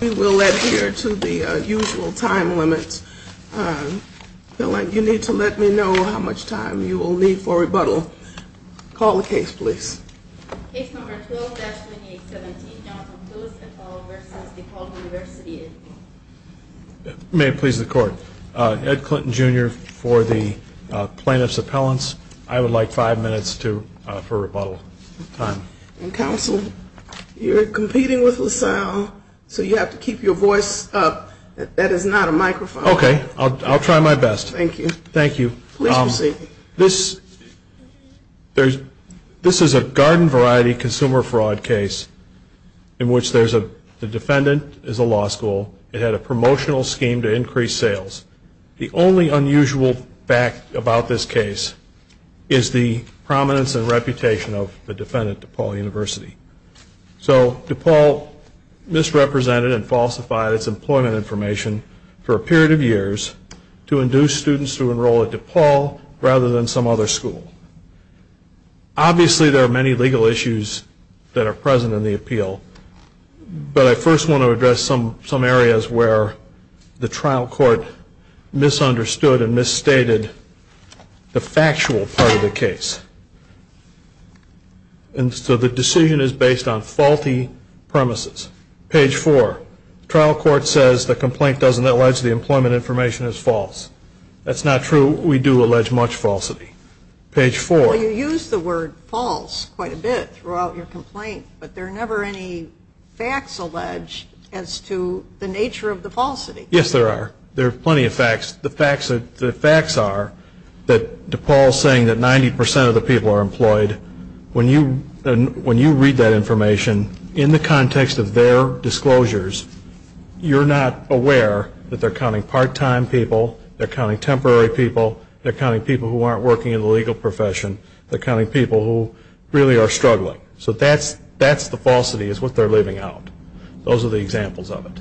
We will adhere to the usual time limits. Appellant, you need to let me know how much time you will need for rebuttal. Call the case, please. Case number 12-2817, Jonathan Lewis et al. v. De Paul University. May it please the court. Ed Clinton, Jr. for the plaintiff's appellants. I would like five minutes for rebuttal time. Counsel, you're competing with LaSalle, so you have to keep your voice up. That is not a microphone. Okay, I'll try my best. Thank you. Thank you. Please proceed. This is a garden variety consumer fraud case in which the defendant is a law school. It had a promotional scheme to increase sales. The only unusual fact about this case is the prominence and reputation of the defendant, De Paul University. So De Paul misrepresented and falsified its employment information for a period of years to induce students to enroll at De Paul rather than some other school. Obviously, there are many legal issues that are present in the appeal, but I first want to address some areas where the trial court misunderstood and misstated the factual part of the case. So the decision is based on faulty premises. Page 4. Trial court says the complaint doesn't allege the employment information is false. That's not true. We do allege much falsity. Page 4. Well, you use the word false quite a bit throughout your complaint, but there are never any facts alleged as to the nature of the falsity. Yes, there are. There are plenty of facts. The facts are that De Paul is saying that 90% of the people are employed. When you read that information in the context of their disclosures, you're not aware that they're counting part-time people, they're counting temporary people, they're counting people who aren't working in the legal profession, they're counting people who really are struggling. So that's the falsity is what they're leaving out. Those are the examples of it.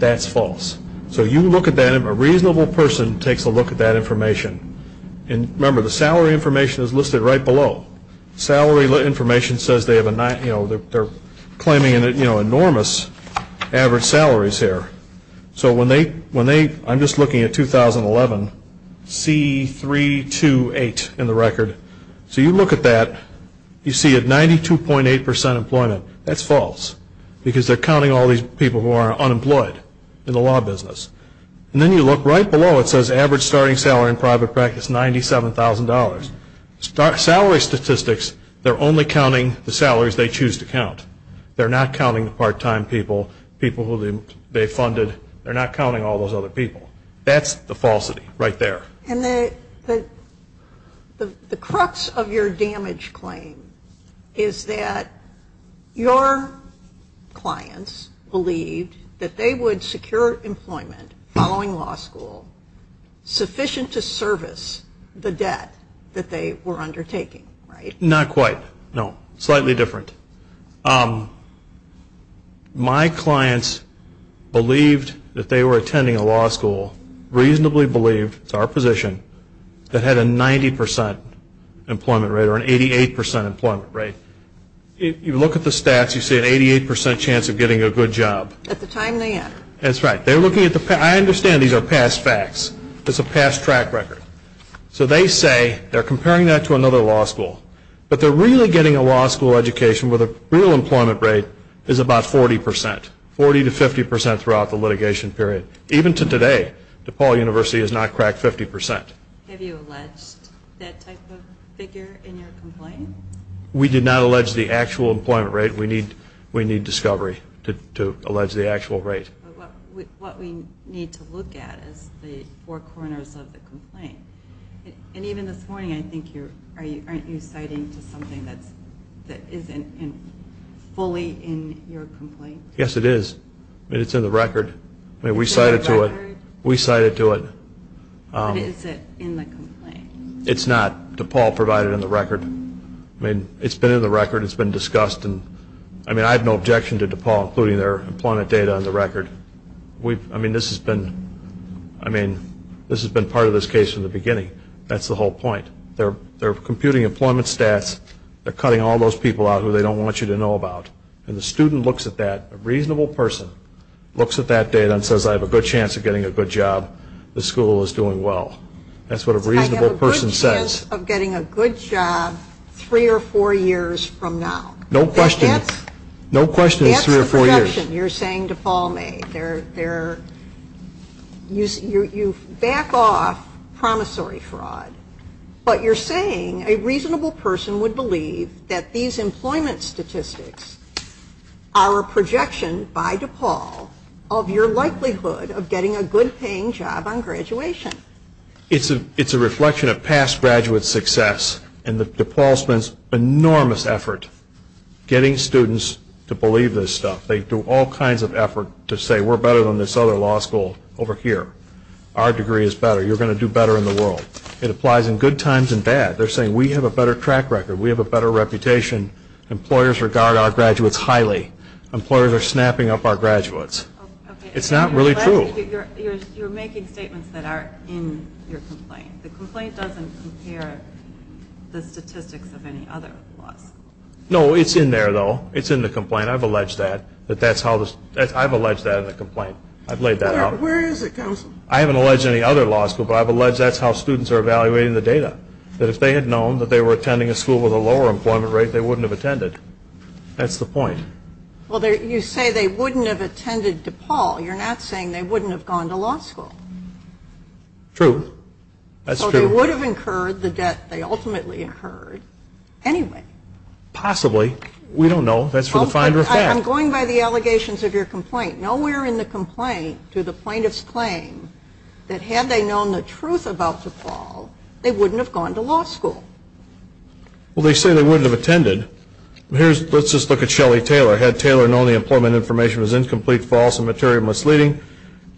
That's false. So you look at that and a reasonable person takes a look at that information. And remember, the salary information is listed right below. Salary information says they're claiming enormous average salaries here. I'm just looking at 2011, C328 in the record. So you look at that, you see a 92.8% employment. That's false because they're counting all these people who are unemployed in the law business. And then you look right below, it says average starting salary in private practice, $97,000. Salary statistics, they're only counting the salaries they choose to count. They're not counting the part-time people, people who they funded. They're not counting all those other people. That's the falsity right there. And the crux of your damage claim is that your clients believed that they would secure employment following law school sufficient to service the debt that they were undertaking, right? Not quite. No, slightly different. My clients believed that they were attending a law school, reasonably believed, it's our position, that had a 90% employment rate or an 88% employment rate. If you look at the stats, you see an 88% chance of getting a good job. At the time they enter. That's right. I understand these are past facts. It's a past track record. So they say they're comparing that to another law school, but they're really getting a law school education where the real employment rate is about 40%, 40% to 50% throughout the litigation period. Even to today, DePaul University has not cracked 50%. Have you alleged that type of figure in your complaint? We did not allege the actual employment rate. We need discovery to allege the actual rate. What we need to look at is the four corners of the complaint. And even this morning I think you're citing something that isn't fully in your complaint. Yes, it is. It's in the record. We cited to it. We cited to it. Is it in the complaint? It's not. DePaul provided in the record. It's been in the record. It's been discussed. I have no objection to DePaul including their employment data on the record. This has been part of this case from the beginning. That's the whole point. They're computing employment stats. They're cutting all those people out who they don't want you to know about. And the student looks at that, a reasonable person, looks at that data and says I have a good chance of getting a good job. This school is doing well. That's what a reasonable person says. I have a good chance of getting a good job three or four years from now. No question. No question it's three or four years. That's the projection you're saying DePaul made. You back off promissory fraud. But you're saying a reasonable person would believe that these employment statistics are a projection by DePaul of your likelihood of getting a good paying job on graduation. It's a reflection of past graduate success. And DePaul spends enormous effort getting students to believe this stuff. They do all kinds of effort to say we're better than this other law school over here. Our degree is better. You're going to do better in the world. It applies in good times and bad. They're saying we have a better track record. We have a better reputation. Employers regard our graduates highly. Employers are snapping up our graduates. It's not really true. You're making statements that are in your complaint. The complaint doesn't compare the statistics of any other laws. No, it's in there, though. It's in the complaint. I've alleged that. I've alleged that in the complaint. I've laid that out. Where is it, counsel? I haven't alleged any other law school, but I've alleged that's how students are evaluating the data. That if they had known that they were attending a school with a lower employment rate, they wouldn't have attended. That's the point. Well, you say they wouldn't have attended DePaul. You're not saying they wouldn't have gone to law school. True. That's true. So they would have incurred the debt they ultimately incurred anyway. Possibly. We don't know. That's for the finder of fact. I'm going by the allegations of your complaint. Nowhere in the complaint do the plaintiffs claim that had they known the truth about DePaul, they wouldn't have gone to law school. Well, they say they wouldn't have attended. Let's just look at Shelly Taylor. Had Taylor known the employment information was incomplete, false, and materially misleading,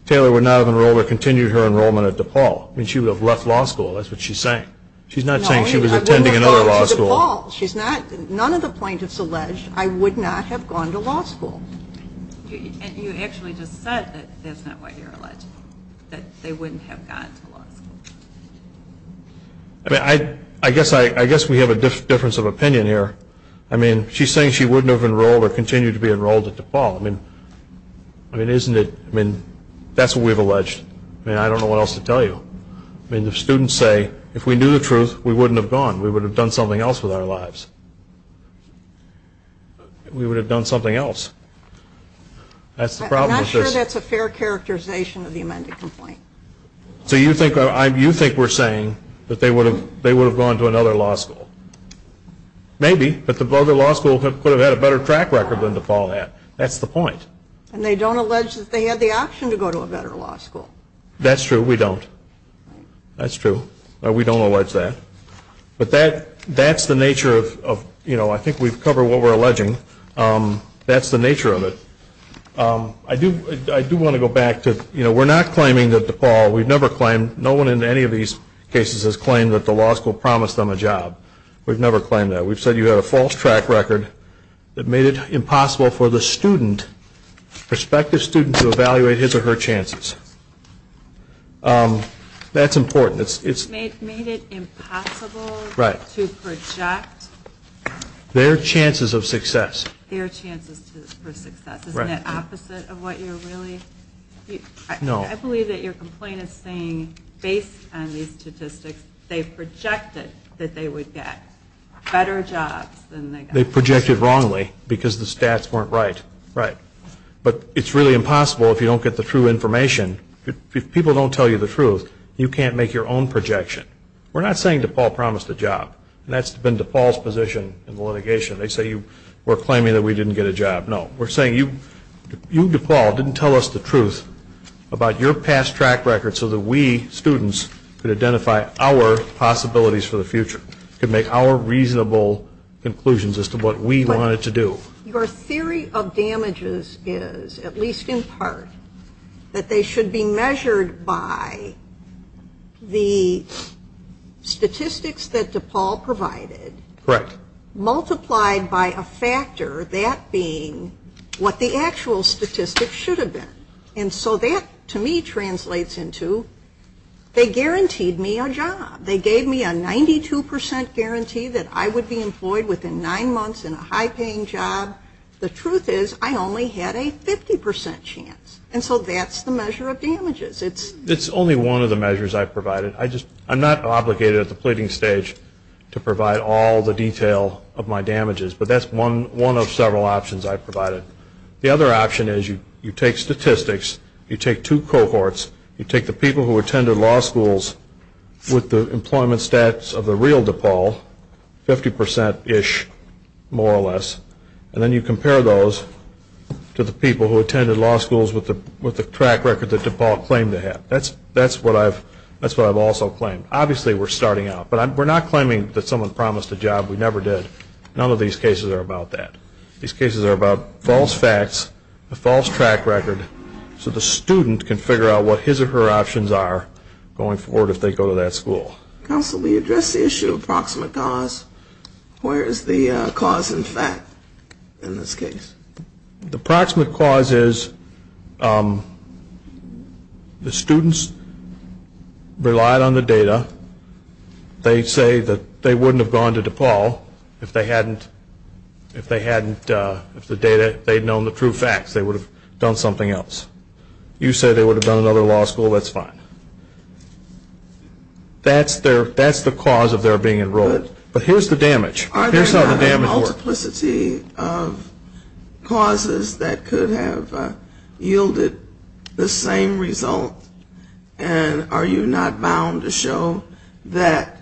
Taylor would not have enrolled or continued her enrollment at DePaul. I mean, she would have left law school. That's what she's saying. She's not saying she was attending another law school. She's not. None of the plaintiffs allege I would not have gone to law school. You actually just said that's not what you're alleging, that they wouldn't have gone to law school. I mean, I guess we have a difference of opinion here. I mean, she's saying she wouldn't have enrolled or continued to be enrolled at DePaul. I mean, isn't it? I mean, that's what we've alleged. I mean, I don't know what else to tell you. I mean, the students say if we knew the truth, we wouldn't have gone. We would have done something else with our lives. We would have done something else. I'm not sure that's a fair characterization of the amended complaint. So you think we're saying that they would have gone to another law school? Maybe. But the other law school could have had a better track record than DePaul had. That's the point. And they don't allege that they had the option to go to a better law school. That's true. We don't. That's true. We don't allege that. But that's the nature of, you know, I think we've covered what we're alleging. That's the nature of it. I do want to go back to, you know, we're not claiming that DePaul, we've never claimed, no one in any of these cases has claimed that the law school promised them a job. We've never claimed that. We've said you had a false track record that made it impossible for the student, prospective student, to evaluate his or her chances. That's important. It made it impossible to project their chances of success. Their chances for success. Right. Isn't that opposite of what you're really? No. I believe that your complaint is saying, based on these statistics, they projected that they would get better jobs than they got. They projected wrongly because the stats weren't right. Right. But it's really impossible if you don't get the true information. If people don't tell you the truth, you can't make your own projection. We're not saying DePaul promised a job. That's been DePaul's position in the litigation. They say we're claiming that we didn't get a job. No. We're saying you, DePaul, didn't tell us the truth about your past track record so that we, students, could identify our possibilities for the future, could make our reasonable conclusions as to what we wanted to do. Your theory of damages is, at least in part, that they should be measured by the statistics that DePaul provided. Correct. Multiplied by a factor, that being what the actual statistics should have been. And so that, to me, translates into they guaranteed me a job. They gave me a 92% guarantee that I would be employed within nine months in a high-paying job. The truth is I only had a 50% chance. And so that's the measure of damages. It's only one of the measures I provided. I'm not obligated at the pleading stage to provide all the detail of my damages, but that's one of several options I provided. The other option is you take statistics, you take two cohorts, you take the people who attended law schools with the employment stats of the real DePaul, 50%-ish, more or less, and then you compare those to the people who attended law schools with the track record that DePaul claimed to have. That's what I've also claimed. Obviously we're starting out, but we're not claiming that someone promised a job we never did. None of these cases are about that. These cases are about false facts, a false track record, so the student can figure out what his or her options are going forward if they go to that school. Counsel, we addressed the issue of proximate cause. Where is the cause and fact in this case? The proximate cause is the students relied on the data. They say that they wouldn't have gone to DePaul if they hadn't, if they'd known the true facts, they would have done something else. You say they would have done another law school, that's fine. That's the cause of their being enrolled. But here's the damage. Here's how the damage works. Are there not a multiplicity of causes that could have yielded the same result, and are you not bound to show that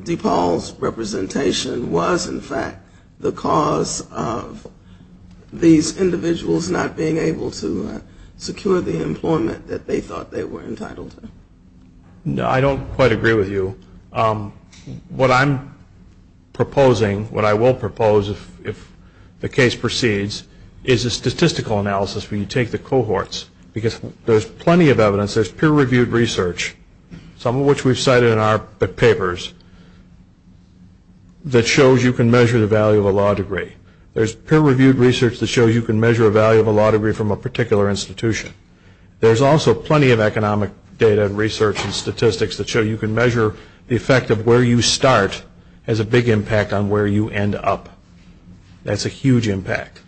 DePaul's representation was, in fact, the cause of these individuals not being able to secure the employment that they thought they were entitled to? No, I don't quite agree with you. What I'm proposing, what I will propose if the case proceeds, is a statistical analysis where you take the cohorts, because there's plenty of evidence, there's peer-reviewed research, some of which we've cited in our papers, that shows you can measure the value of a law degree. There's peer-reviewed research that shows you can measure a value of a law degree from a particular institution. There's also plenty of economic data and research and statistics that show you can measure the effect of where you start has a big impact on where you end up. That's a huge impact.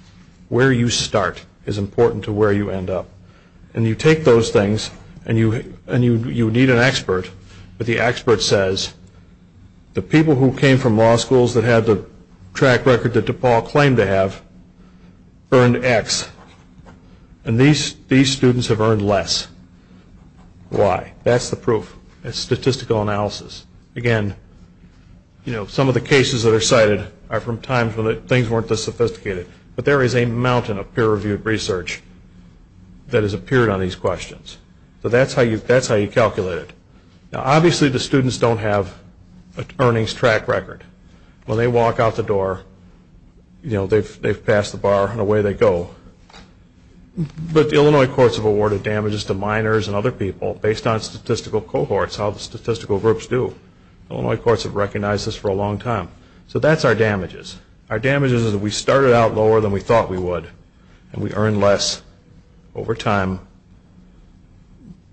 Where you start is important to where you end up. And you take those things, and you need an expert, but the expert says, the people who came from law schools that had the track record that DePaul claimed to have earned X. And these students have earned less. Why? That's the proof. It's statistical analysis. Again, some of the cases that are cited are from times when things weren't this sophisticated. But there is a mountain of peer-reviewed research that has appeared on these questions. So that's how you calculate it. Now obviously the students don't have an earnings track record. When they walk out the door, they've passed the bar, and away they go. But the Illinois courts have awarded damages to minors and other people based on statistical cohorts, how the statistical groups do. Illinois courts have recognized this for a long time. So that's our damages. Our damages is that we started out lower than we thought we would, and we earned less over time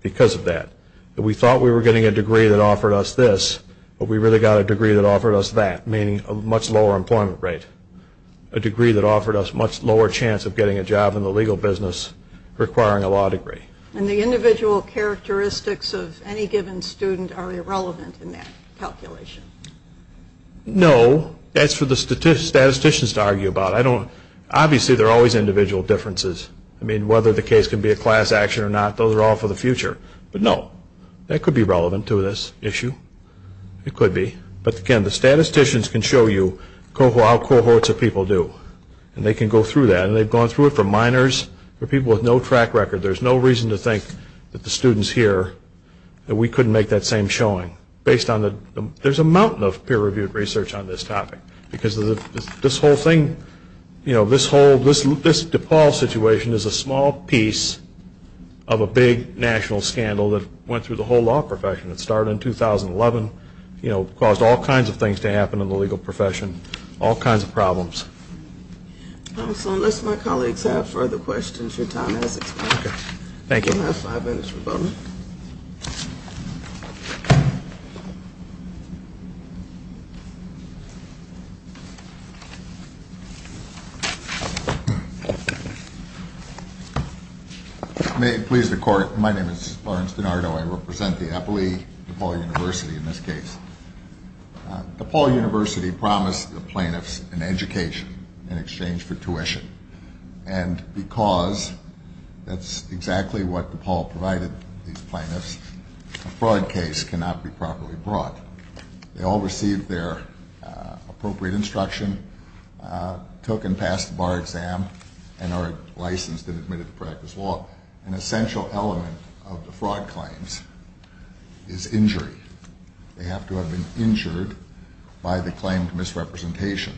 because of that. We thought we were getting a degree that offered us this, but we really got a degree that offered us that, meaning a much lower employment rate. A degree that offered us a much lower chance of getting a job in the legal business, requiring a law degree. And the individual characteristics of any given student are irrelevant in that calculation? No. That's for the statisticians to argue about. Obviously there are always individual differences. I mean, whether the case can be a class action or not, those are all for the future. But no, that could be relevant to this issue. It could be. But again, the statisticians can show you how cohorts of people do, and they can go through that. And they've gone through it for minors, for people with no track record. There's no reason to think that the students here, that we couldn't make that same showing. There's a mountain of peer-reviewed research on this topic, because this whole thing, this DePaul situation, is a small piece of a big national scandal that went through the whole law profession. It started in 2011. It caused all kinds of things to happen in the legal profession, all kinds of problems. So unless my colleagues have further questions, your time has expired. Okay. Thank you. May it please the Court, my name is Lawrence DiNardo. I represent the Eppley DePaul University in this case. DePaul University promised the plaintiffs an education in exchange for tuition. And because that's exactly what DePaul provided these plaintiffs, a fraud case cannot be properly brought. They all received their appropriate instruction, took and passed the bar exam, and are licensed and admitted to practice law. An essential element of the fraud claims is injury. They have to have been injured by the claimed misrepresentation.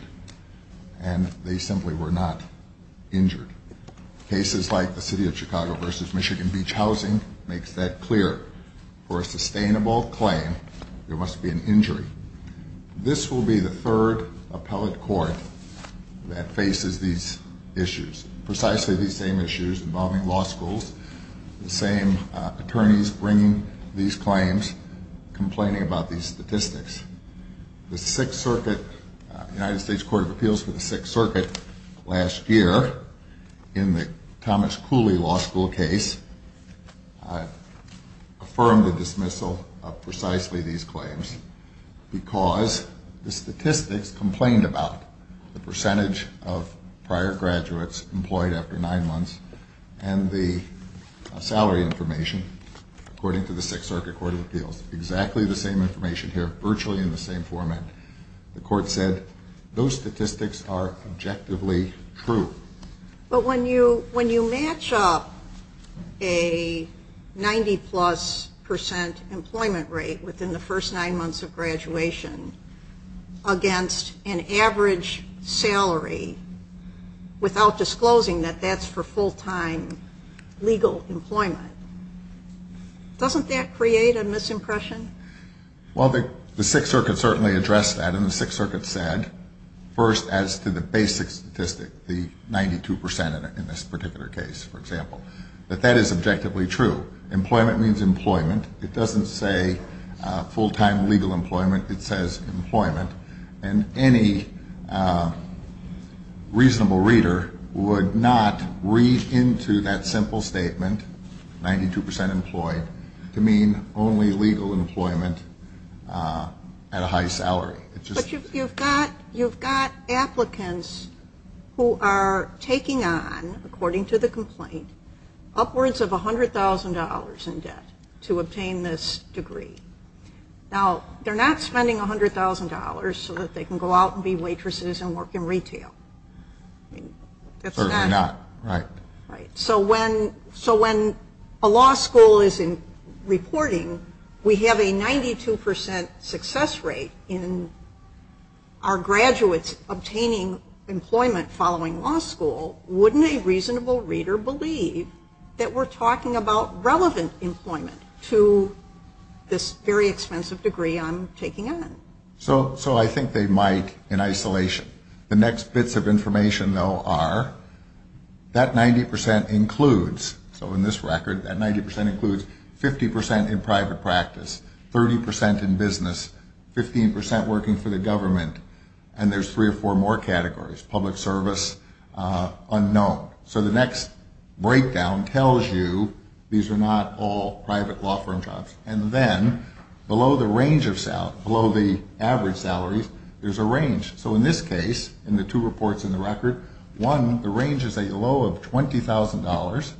And they simply were not injured. Cases like the City of Chicago v. Michigan Beach Housing makes that clear. For a sustainable claim, there must be an injury. This will be the third appellate court that faces these issues, precisely these same issues involving law schools, the same attorneys bringing these claims, complaining about these statistics. The Sixth Circuit, United States Court of Appeals for the Sixth Circuit, last year in the Thomas Cooley Law School case, affirmed the dismissal of precisely these claims because the statistics complained about the percentage of prior graduates employed after nine months and the salary information according to the Sixth Circuit Court of Appeals. Exactly the same information here, virtually in the same format. The court said those statistics are objectively true. But when you match up a 90-plus percent employment rate within the first nine months of graduation against an average salary without disclosing that that's for full-time legal employment, doesn't that create a misimpression? Well, the Sixth Circuit certainly addressed that, and the Sixth Circuit said, first as to the basic statistic, the 92 percent in this particular case, for example, that that is objectively true. Employment means employment. It doesn't say full-time legal employment. It says employment. And any reasonable reader would not read into that simple statement, 92 percent employed, to mean only legal employment at a high salary. But you've got applicants who are taking on, according to the complaint, upwards of $100,000 in debt to obtain this degree. Now, they're not spending $100,000 so that they can go out and be waitresses and work in retail. Certainly not, right. So when a law school is reporting we have a 92 percent success rate in our graduates obtaining employment following law school, wouldn't a reasonable reader believe that we're talking about relevant employment to this very expensive degree I'm taking on? So I think they might in isolation. The next bits of information, though, are that 90 percent includes, so in this record, that 90 percent includes 50 percent in private practice, 30 percent in business, 15 percent working for the government, and there's three or four more categories, public service, unknown. So the next breakdown tells you these are not all private law firm jobs. And then below the average salaries, there's a range. So in this case, in the two reports in the record, one, the range is a low of $20,000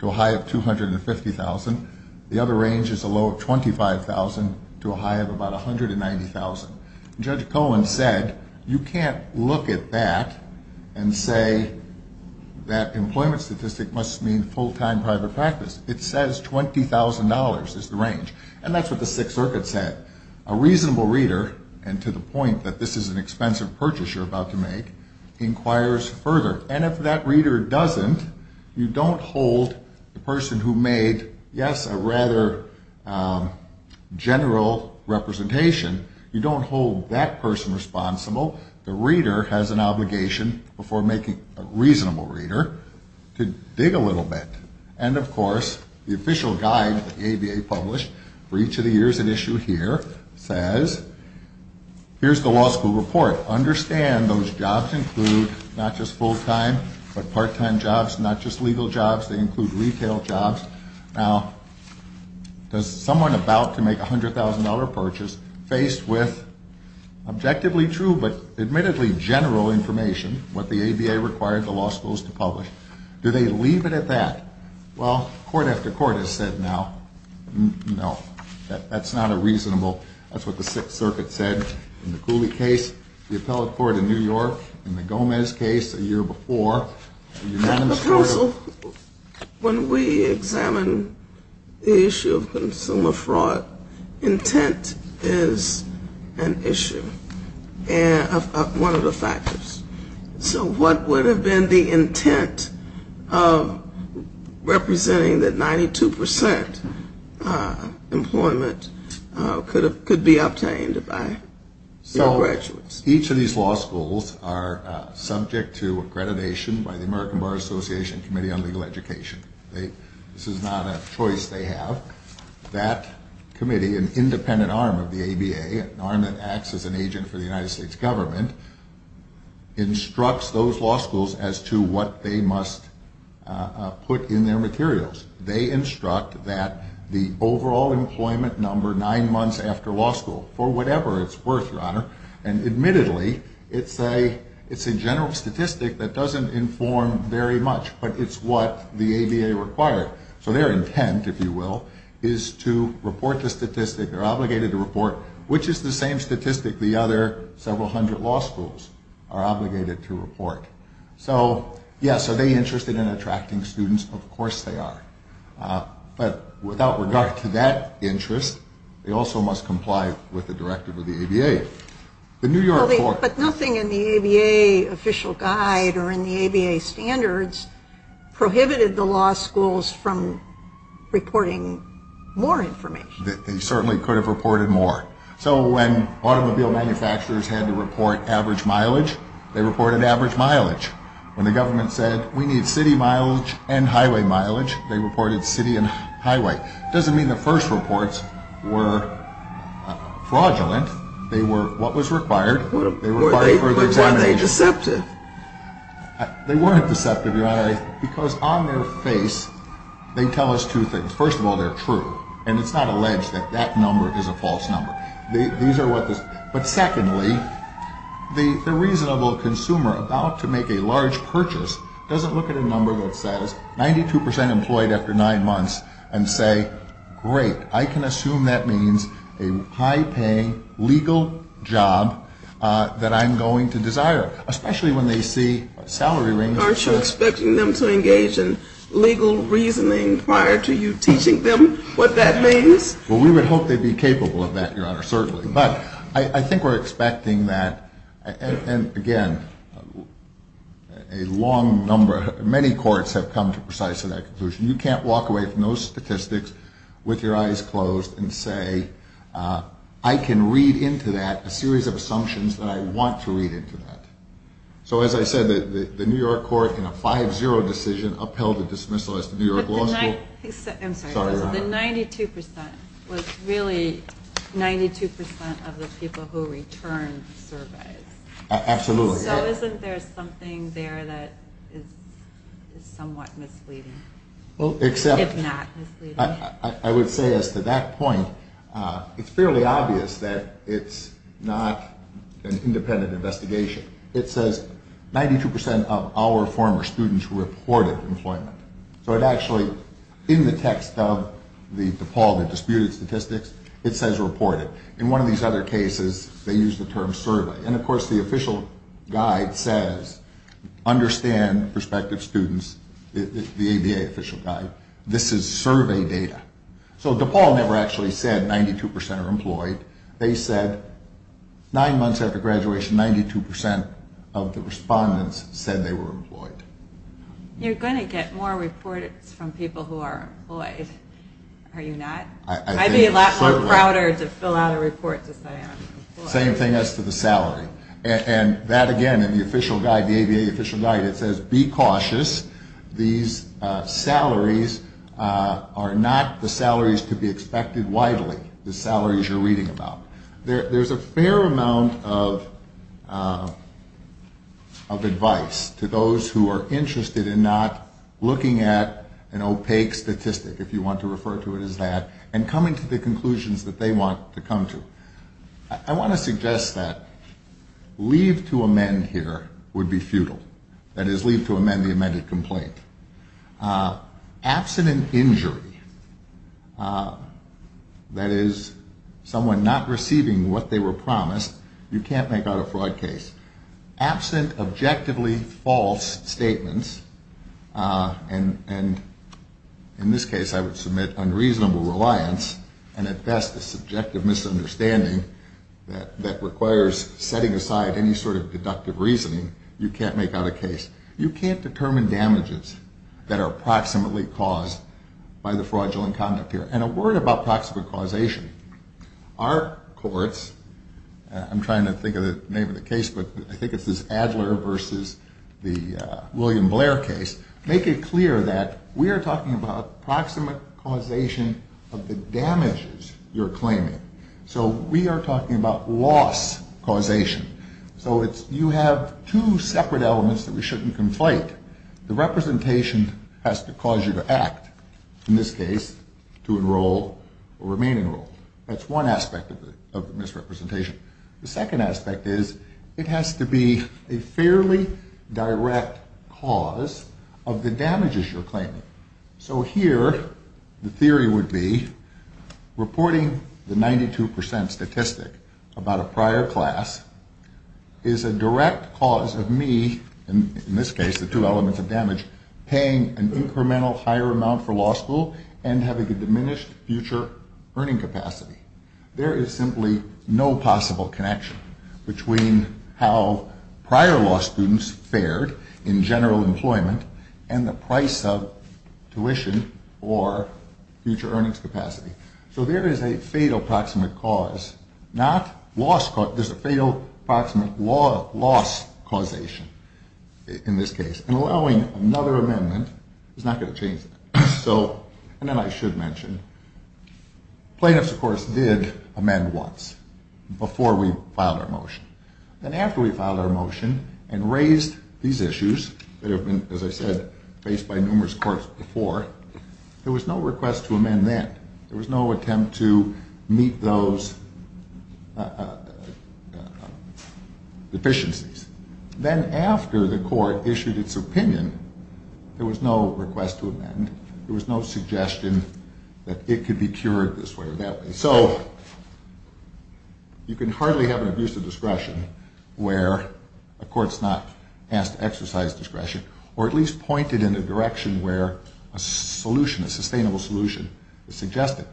to a high of $250,000. The other range is a low of $25,000 to a high of about $190,000. Judge Cohen said you can't look at that and say that employment statistic must mean full-time private practice. It says $20,000 is the range. And that's what the Sixth Circuit said. A reasonable reader, and to the point that this is an expensive purchase you're about to make, inquires further. And if that reader doesn't, you don't hold the person who made, yes, a rather general representation, you don't hold that person responsible. The reader has an obligation before making a reasonable reader to dig a little bit. And, of course, the official guide that the ABA published for each of the years at issue here says, here's the law school report. Understand those jobs include not just full-time but part-time jobs, not just legal jobs. They include retail jobs. Now, does someone about to make a $100,000 purchase faced with objectively true but admittedly general information, what the ABA required the law schools to publish, do they leave it at that? Well, court after court has said now, no, that's not a reasonable. That's what the Sixth Circuit said in the Cooley case, the appellate court in New York, in the Gomez case a year before. Counsel, when we examine the issue of consumer fraud, intent is an issue, one of the factors. So what would have been the intent of representing that 92% employment could be obtained by graduates? Each of these law schools are subject to accreditation by the American Bar Association Committee on Legal Education. This is not a choice they have. That committee, an independent arm of the ABA, an arm that acts as an agent for the United States government, instructs those law schools as to what they must put in their materials. They instruct that the overall employment number nine months after law school, for whatever it's worth, Your Honor, and admittedly, it's a general statistic that doesn't inform very much, but it's what the ABA required. So their intent, if you will, is to report the statistic. They're obligated to report which is the same statistic the other several hundred law schools are obligated to report. So, yes, are they interested in attracting students? Of course they are. But without regard to that interest, they also must comply with the directive of the ABA. But nothing in the ABA official guide or in the ABA standards prohibited the law schools from reporting more information. They certainly could have reported more. So when automobile manufacturers had to report average mileage, they reported average mileage. When the government said we need city mileage and highway mileage, they reported city and highway. It doesn't mean the first reports were fraudulent. They were what was required. They required further examination. But weren't they deceptive? They weren't deceptive, Your Honor, because on their face they tell us two things. First of all, they're true, and it's not alleged that that number is a false number. But secondly, the reasonable consumer about to make a large purchase doesn't look at a number that says 92 percent employed after nine months and say, great, I can assume that means a high-paying legal job that I'm going to desire, especially when they see salary ranges. Aren't you expecting them to engage in legal reasoning prior to you teaching them what that means? Well, we would hope they'd be capable of that, Your Honor, certainly. But I think we're expecting that. And, again, a long number, many courts have come to precisely that conclusion. You can't walk away from those statistics with your eyes closed and say, I can read into that a series of assumptions that I want to read into that. So as I said, the New York court in a 5-0 decision upheld a dismissal as to New York law school. The 92 percent was really 92 percent of the people who returned the surveys. Absolutely. So isn't there something there that is somewhat misleading, if not misleading? I would say as to that point, it's fairly obvious that it's not an independent investigation. It says 92 percent of our former students reported employment. So it actually, in the text of the DePaul, the disputed statistics, it says reported. In one of these other cases, they use the term survey. And, of course, the official guide says understand prospective students, the ABA official guide. This is survey data. So DePaul never actually said 92 percent are employed. They said nine months after graduation, 92 percent of the respondents said they were employed. You're going to get more reports from people who are employed, are you not? I'd be a lot more prouder to fill out a report to say I'm employed. Same thing as to the salary. And that, again, in the official guide, the ABA official guide, it says be cautious. These salaries are not the salaries to be expected widely, the salaries you're reading about. There's a fair amount of advice to those who are interested in not looking at an opaque statistic, if you want to refer to it as that, and coming to the conclusions that they want to come to. I want to suggest that leave to amend here would be futile. That is, leave to amend the amended complaint. Absent an injury, that is, someone not receiving what they were promised, you can't make out a fraud case. Absent objectively false statements, and in this case I would submit unreasonable reliance, and at best a subjective misunderstanding that requires setting aside any sort of deductive reasoning, you can't make out a case. You can't determine damages that are proximately caused by the fraudulent conduct here. And a word about proximate causation. Our courts, I'm trying to think of the name of the case, but I think it's this Adler versus the William Blair case, make it clear that we are talking about proximate causation of the damages you're claiming. So we are talking about loss causation. So you have two separate elements that we shouldn't conflate. The representation has to cause you to act. In this case, to enroll or remain enrolled. That's one aspect of the misrepresentation. The second aspect is it has to be a fairly direct cause of the damages you're claiming. So here the theory would be reporting the 92% statistic about a prior class is a direct cause of me, in this case the two elements of damage, paying an incremental higher amount for law school and having a diminished future earning capacity. There is simply no possible connection between how prior law students fared in general employment and the price of tuition or future earnings capacity. So there is a fatal proximate cause. There's a fatal proximate loss causation in this case. And allowing another amendment is not going to change that. And then I should mention, plaintiffs, of course, did amend once before we filed our motion. Then after we filed our motion and raised these issues that have been, as I said, faced by numerous courts before, there was no request to amend then. There was no attempt to meet those deficiencies. Then after the court issued its opinion, there was no request to amend. There was no suggestion that it could be cured this way or that way. So you can hardly have an abuse of discretion where a court's not asked to exercise discretion or at least pointed in a direction where a solution, a sustainable solution, is suggested.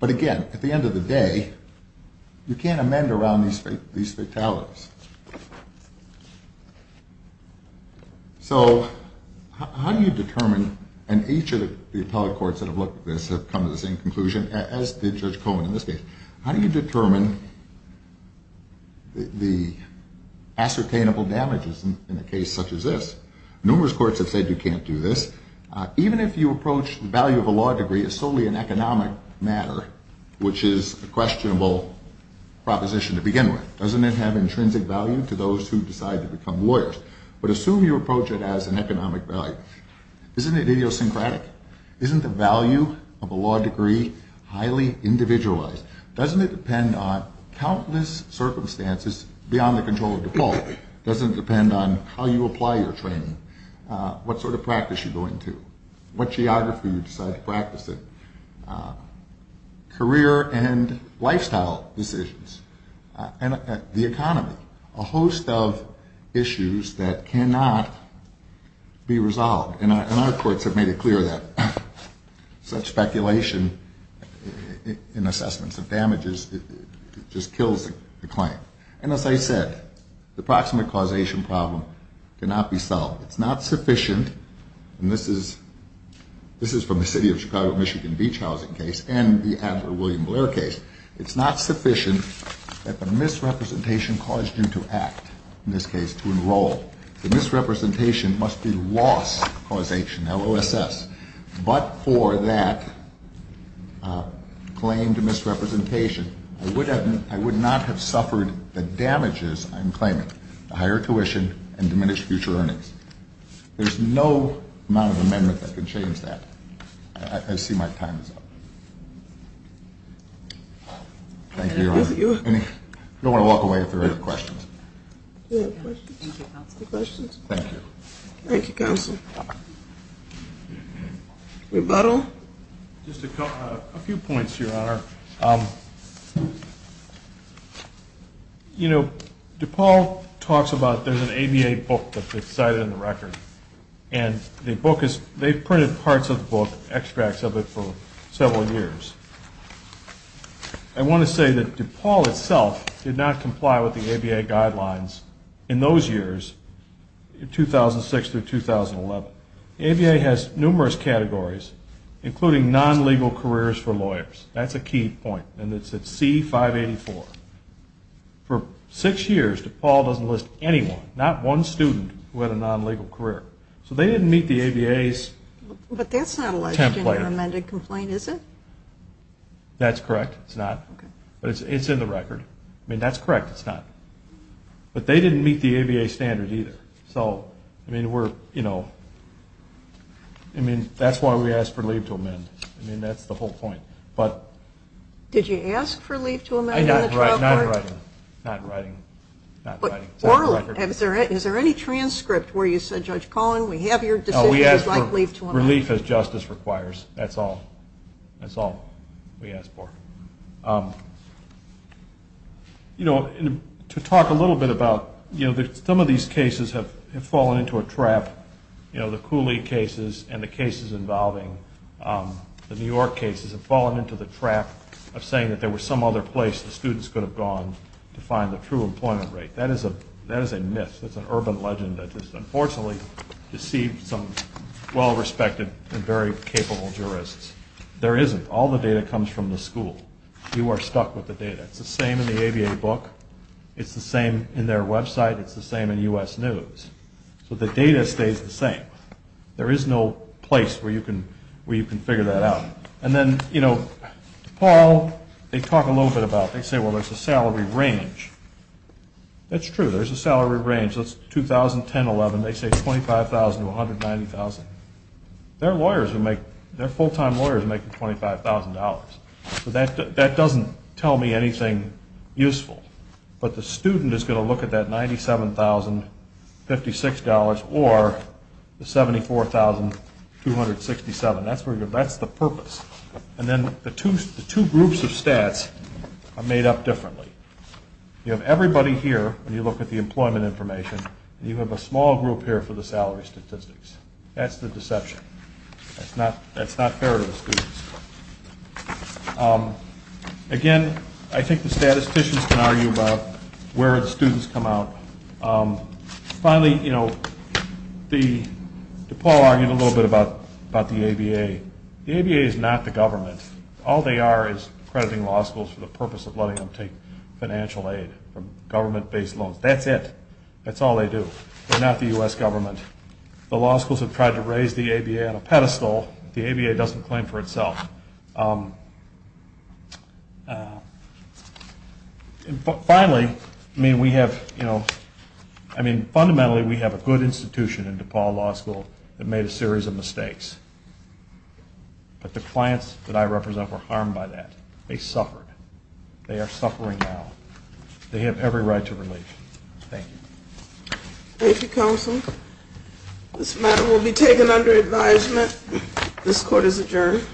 But again, at the end of the day, you can't amend around these fatalities. So how do you determine, and each of the appellate courts that have looked at this have come to the same conclusion as did Judge Cohen in this case, how do you determine the ascertainable damages in a case such as this? Numerous courts have said you can't do this. Even if you approach the value of a law degree as solely an economic matter, which is a questionable proposition to begin with, doesn't it have intrinsic value to those who decide to become lawyers? But assume you approach it as an economic value. Isn't it idiosyncratic? Isn't the value of a law degree highly individualized? Doesn't it depend on countless circumstances beyond the control of default? Doesn't it depend on how you apply your training, what sort of practice you go into, what geography you decide to practice in, career and lifestyle decisions, and the economy, a host of issues that cannot be resolved. And our courts have made it clear that such speculation in assessments of damages just kills the claim. And as I said, the proximate causation problem cannot be solved. It's not sufficient, and this is from the City of Chicago-Michigan beach housing case and the Adler-William Blair case. It's not sufficient that the misrepresentation caused you to act, in this case to enroll. The misrepresentation must be loss causation, LOSS. But for that claim to misrepresentation, I would not have suffered the damages I'm claiming, the higher tuition and diminished future earnings. There's no amount of amendment that can change that. I see my time is up. Thank you, Your Honor. I don't want to walk away if there are any questions. Any questions? Thank you. Thank you, Counsel. Rebuttal? Just a few points, Your Honor. You know, DePaul talks about there's an ABA book that's cited in the record, and they've printed parts of the book, extracts of it, for several years. I want to say that DePaul itself did not comply with the ABA guidelines in those years, 2006 through 2011. ABA has numerous categories, including non-legal careers for lawyers. That's a key point, and it's at C-584. For six years, DePaul doesn't list anyone, not one student, who had a non-legal career. So they didn't meet the ABA's template. It's not listed in the amended complaint, is it? That's correct. It's not. But it's in the record. I mean, that's correct. It's not. But they didn't meet the ABA standards either. So, I mean, we're, you know, I mean, that's why we asked for leave to amend. I mean, that's the whole point. Did you ask for leave to amend in the trial court? Not in writing. Not in writing. Not in writing. Is there any transcript where you said, Judge Collin, we have your decision. We asked for relief as justice requires. That's all. That's all we asked for. You know, to talk a little bit about, you know, some of these cases have fallen into a trap. You know, the Cooley cases and the cases involving the New York cases have fallen into the trap of saying that there was some other place the students could have gone to find the true employment rate. That is a myth. That's an urban legend that just unfortunately deceived some well-respected and very capable jurists. There isn't. All the data comes from the school. You are stuck with the data. It's the same in the ABA book. It's the same in their website. It's the same in U.S. News. So the data stays the same. There is no place where you can figure that out. And then, you know, DePaul, they talk a little bit about, they say, well, there's a salary range. That's true. There's a salary range. That's 2010-11. They say $25,000 to $190,000. Their lawyers are making, their full-time lawyers are making $25,000. So that doesn't tell me anything useful. But the student is going to look at that $97,056 or the $74,267. That's the purpose. And then the two groups of stats are made up differently. You have everybody here when you look at the employment information, and you have a small group here for the salary statistics. That's the deception. That's not fair to the students. Again, I think the statisticians can argue about where the students come out. Finally, you know, DePaul argued a little bit about the ABA. The ABA is not the government. All they are is crediting law schools for the purpose of letting them take financial aid from government-based loans. That's it. That's all they do. They're not the U.S. government. The law schools have tried to raise the ABA on a pedestal. The ABA doesn't claim for itself. Finally, I mean, we have, you know, I mean, fundamentally, we have a good institution in DePaul Law School that made a series of mistakes. But the clients that I represent were harmed by that. They suffered. They are suffering now. They have every right to relief. Thank you. Thank you, counsel. This matter will be taken under advisement. This court is adjourned.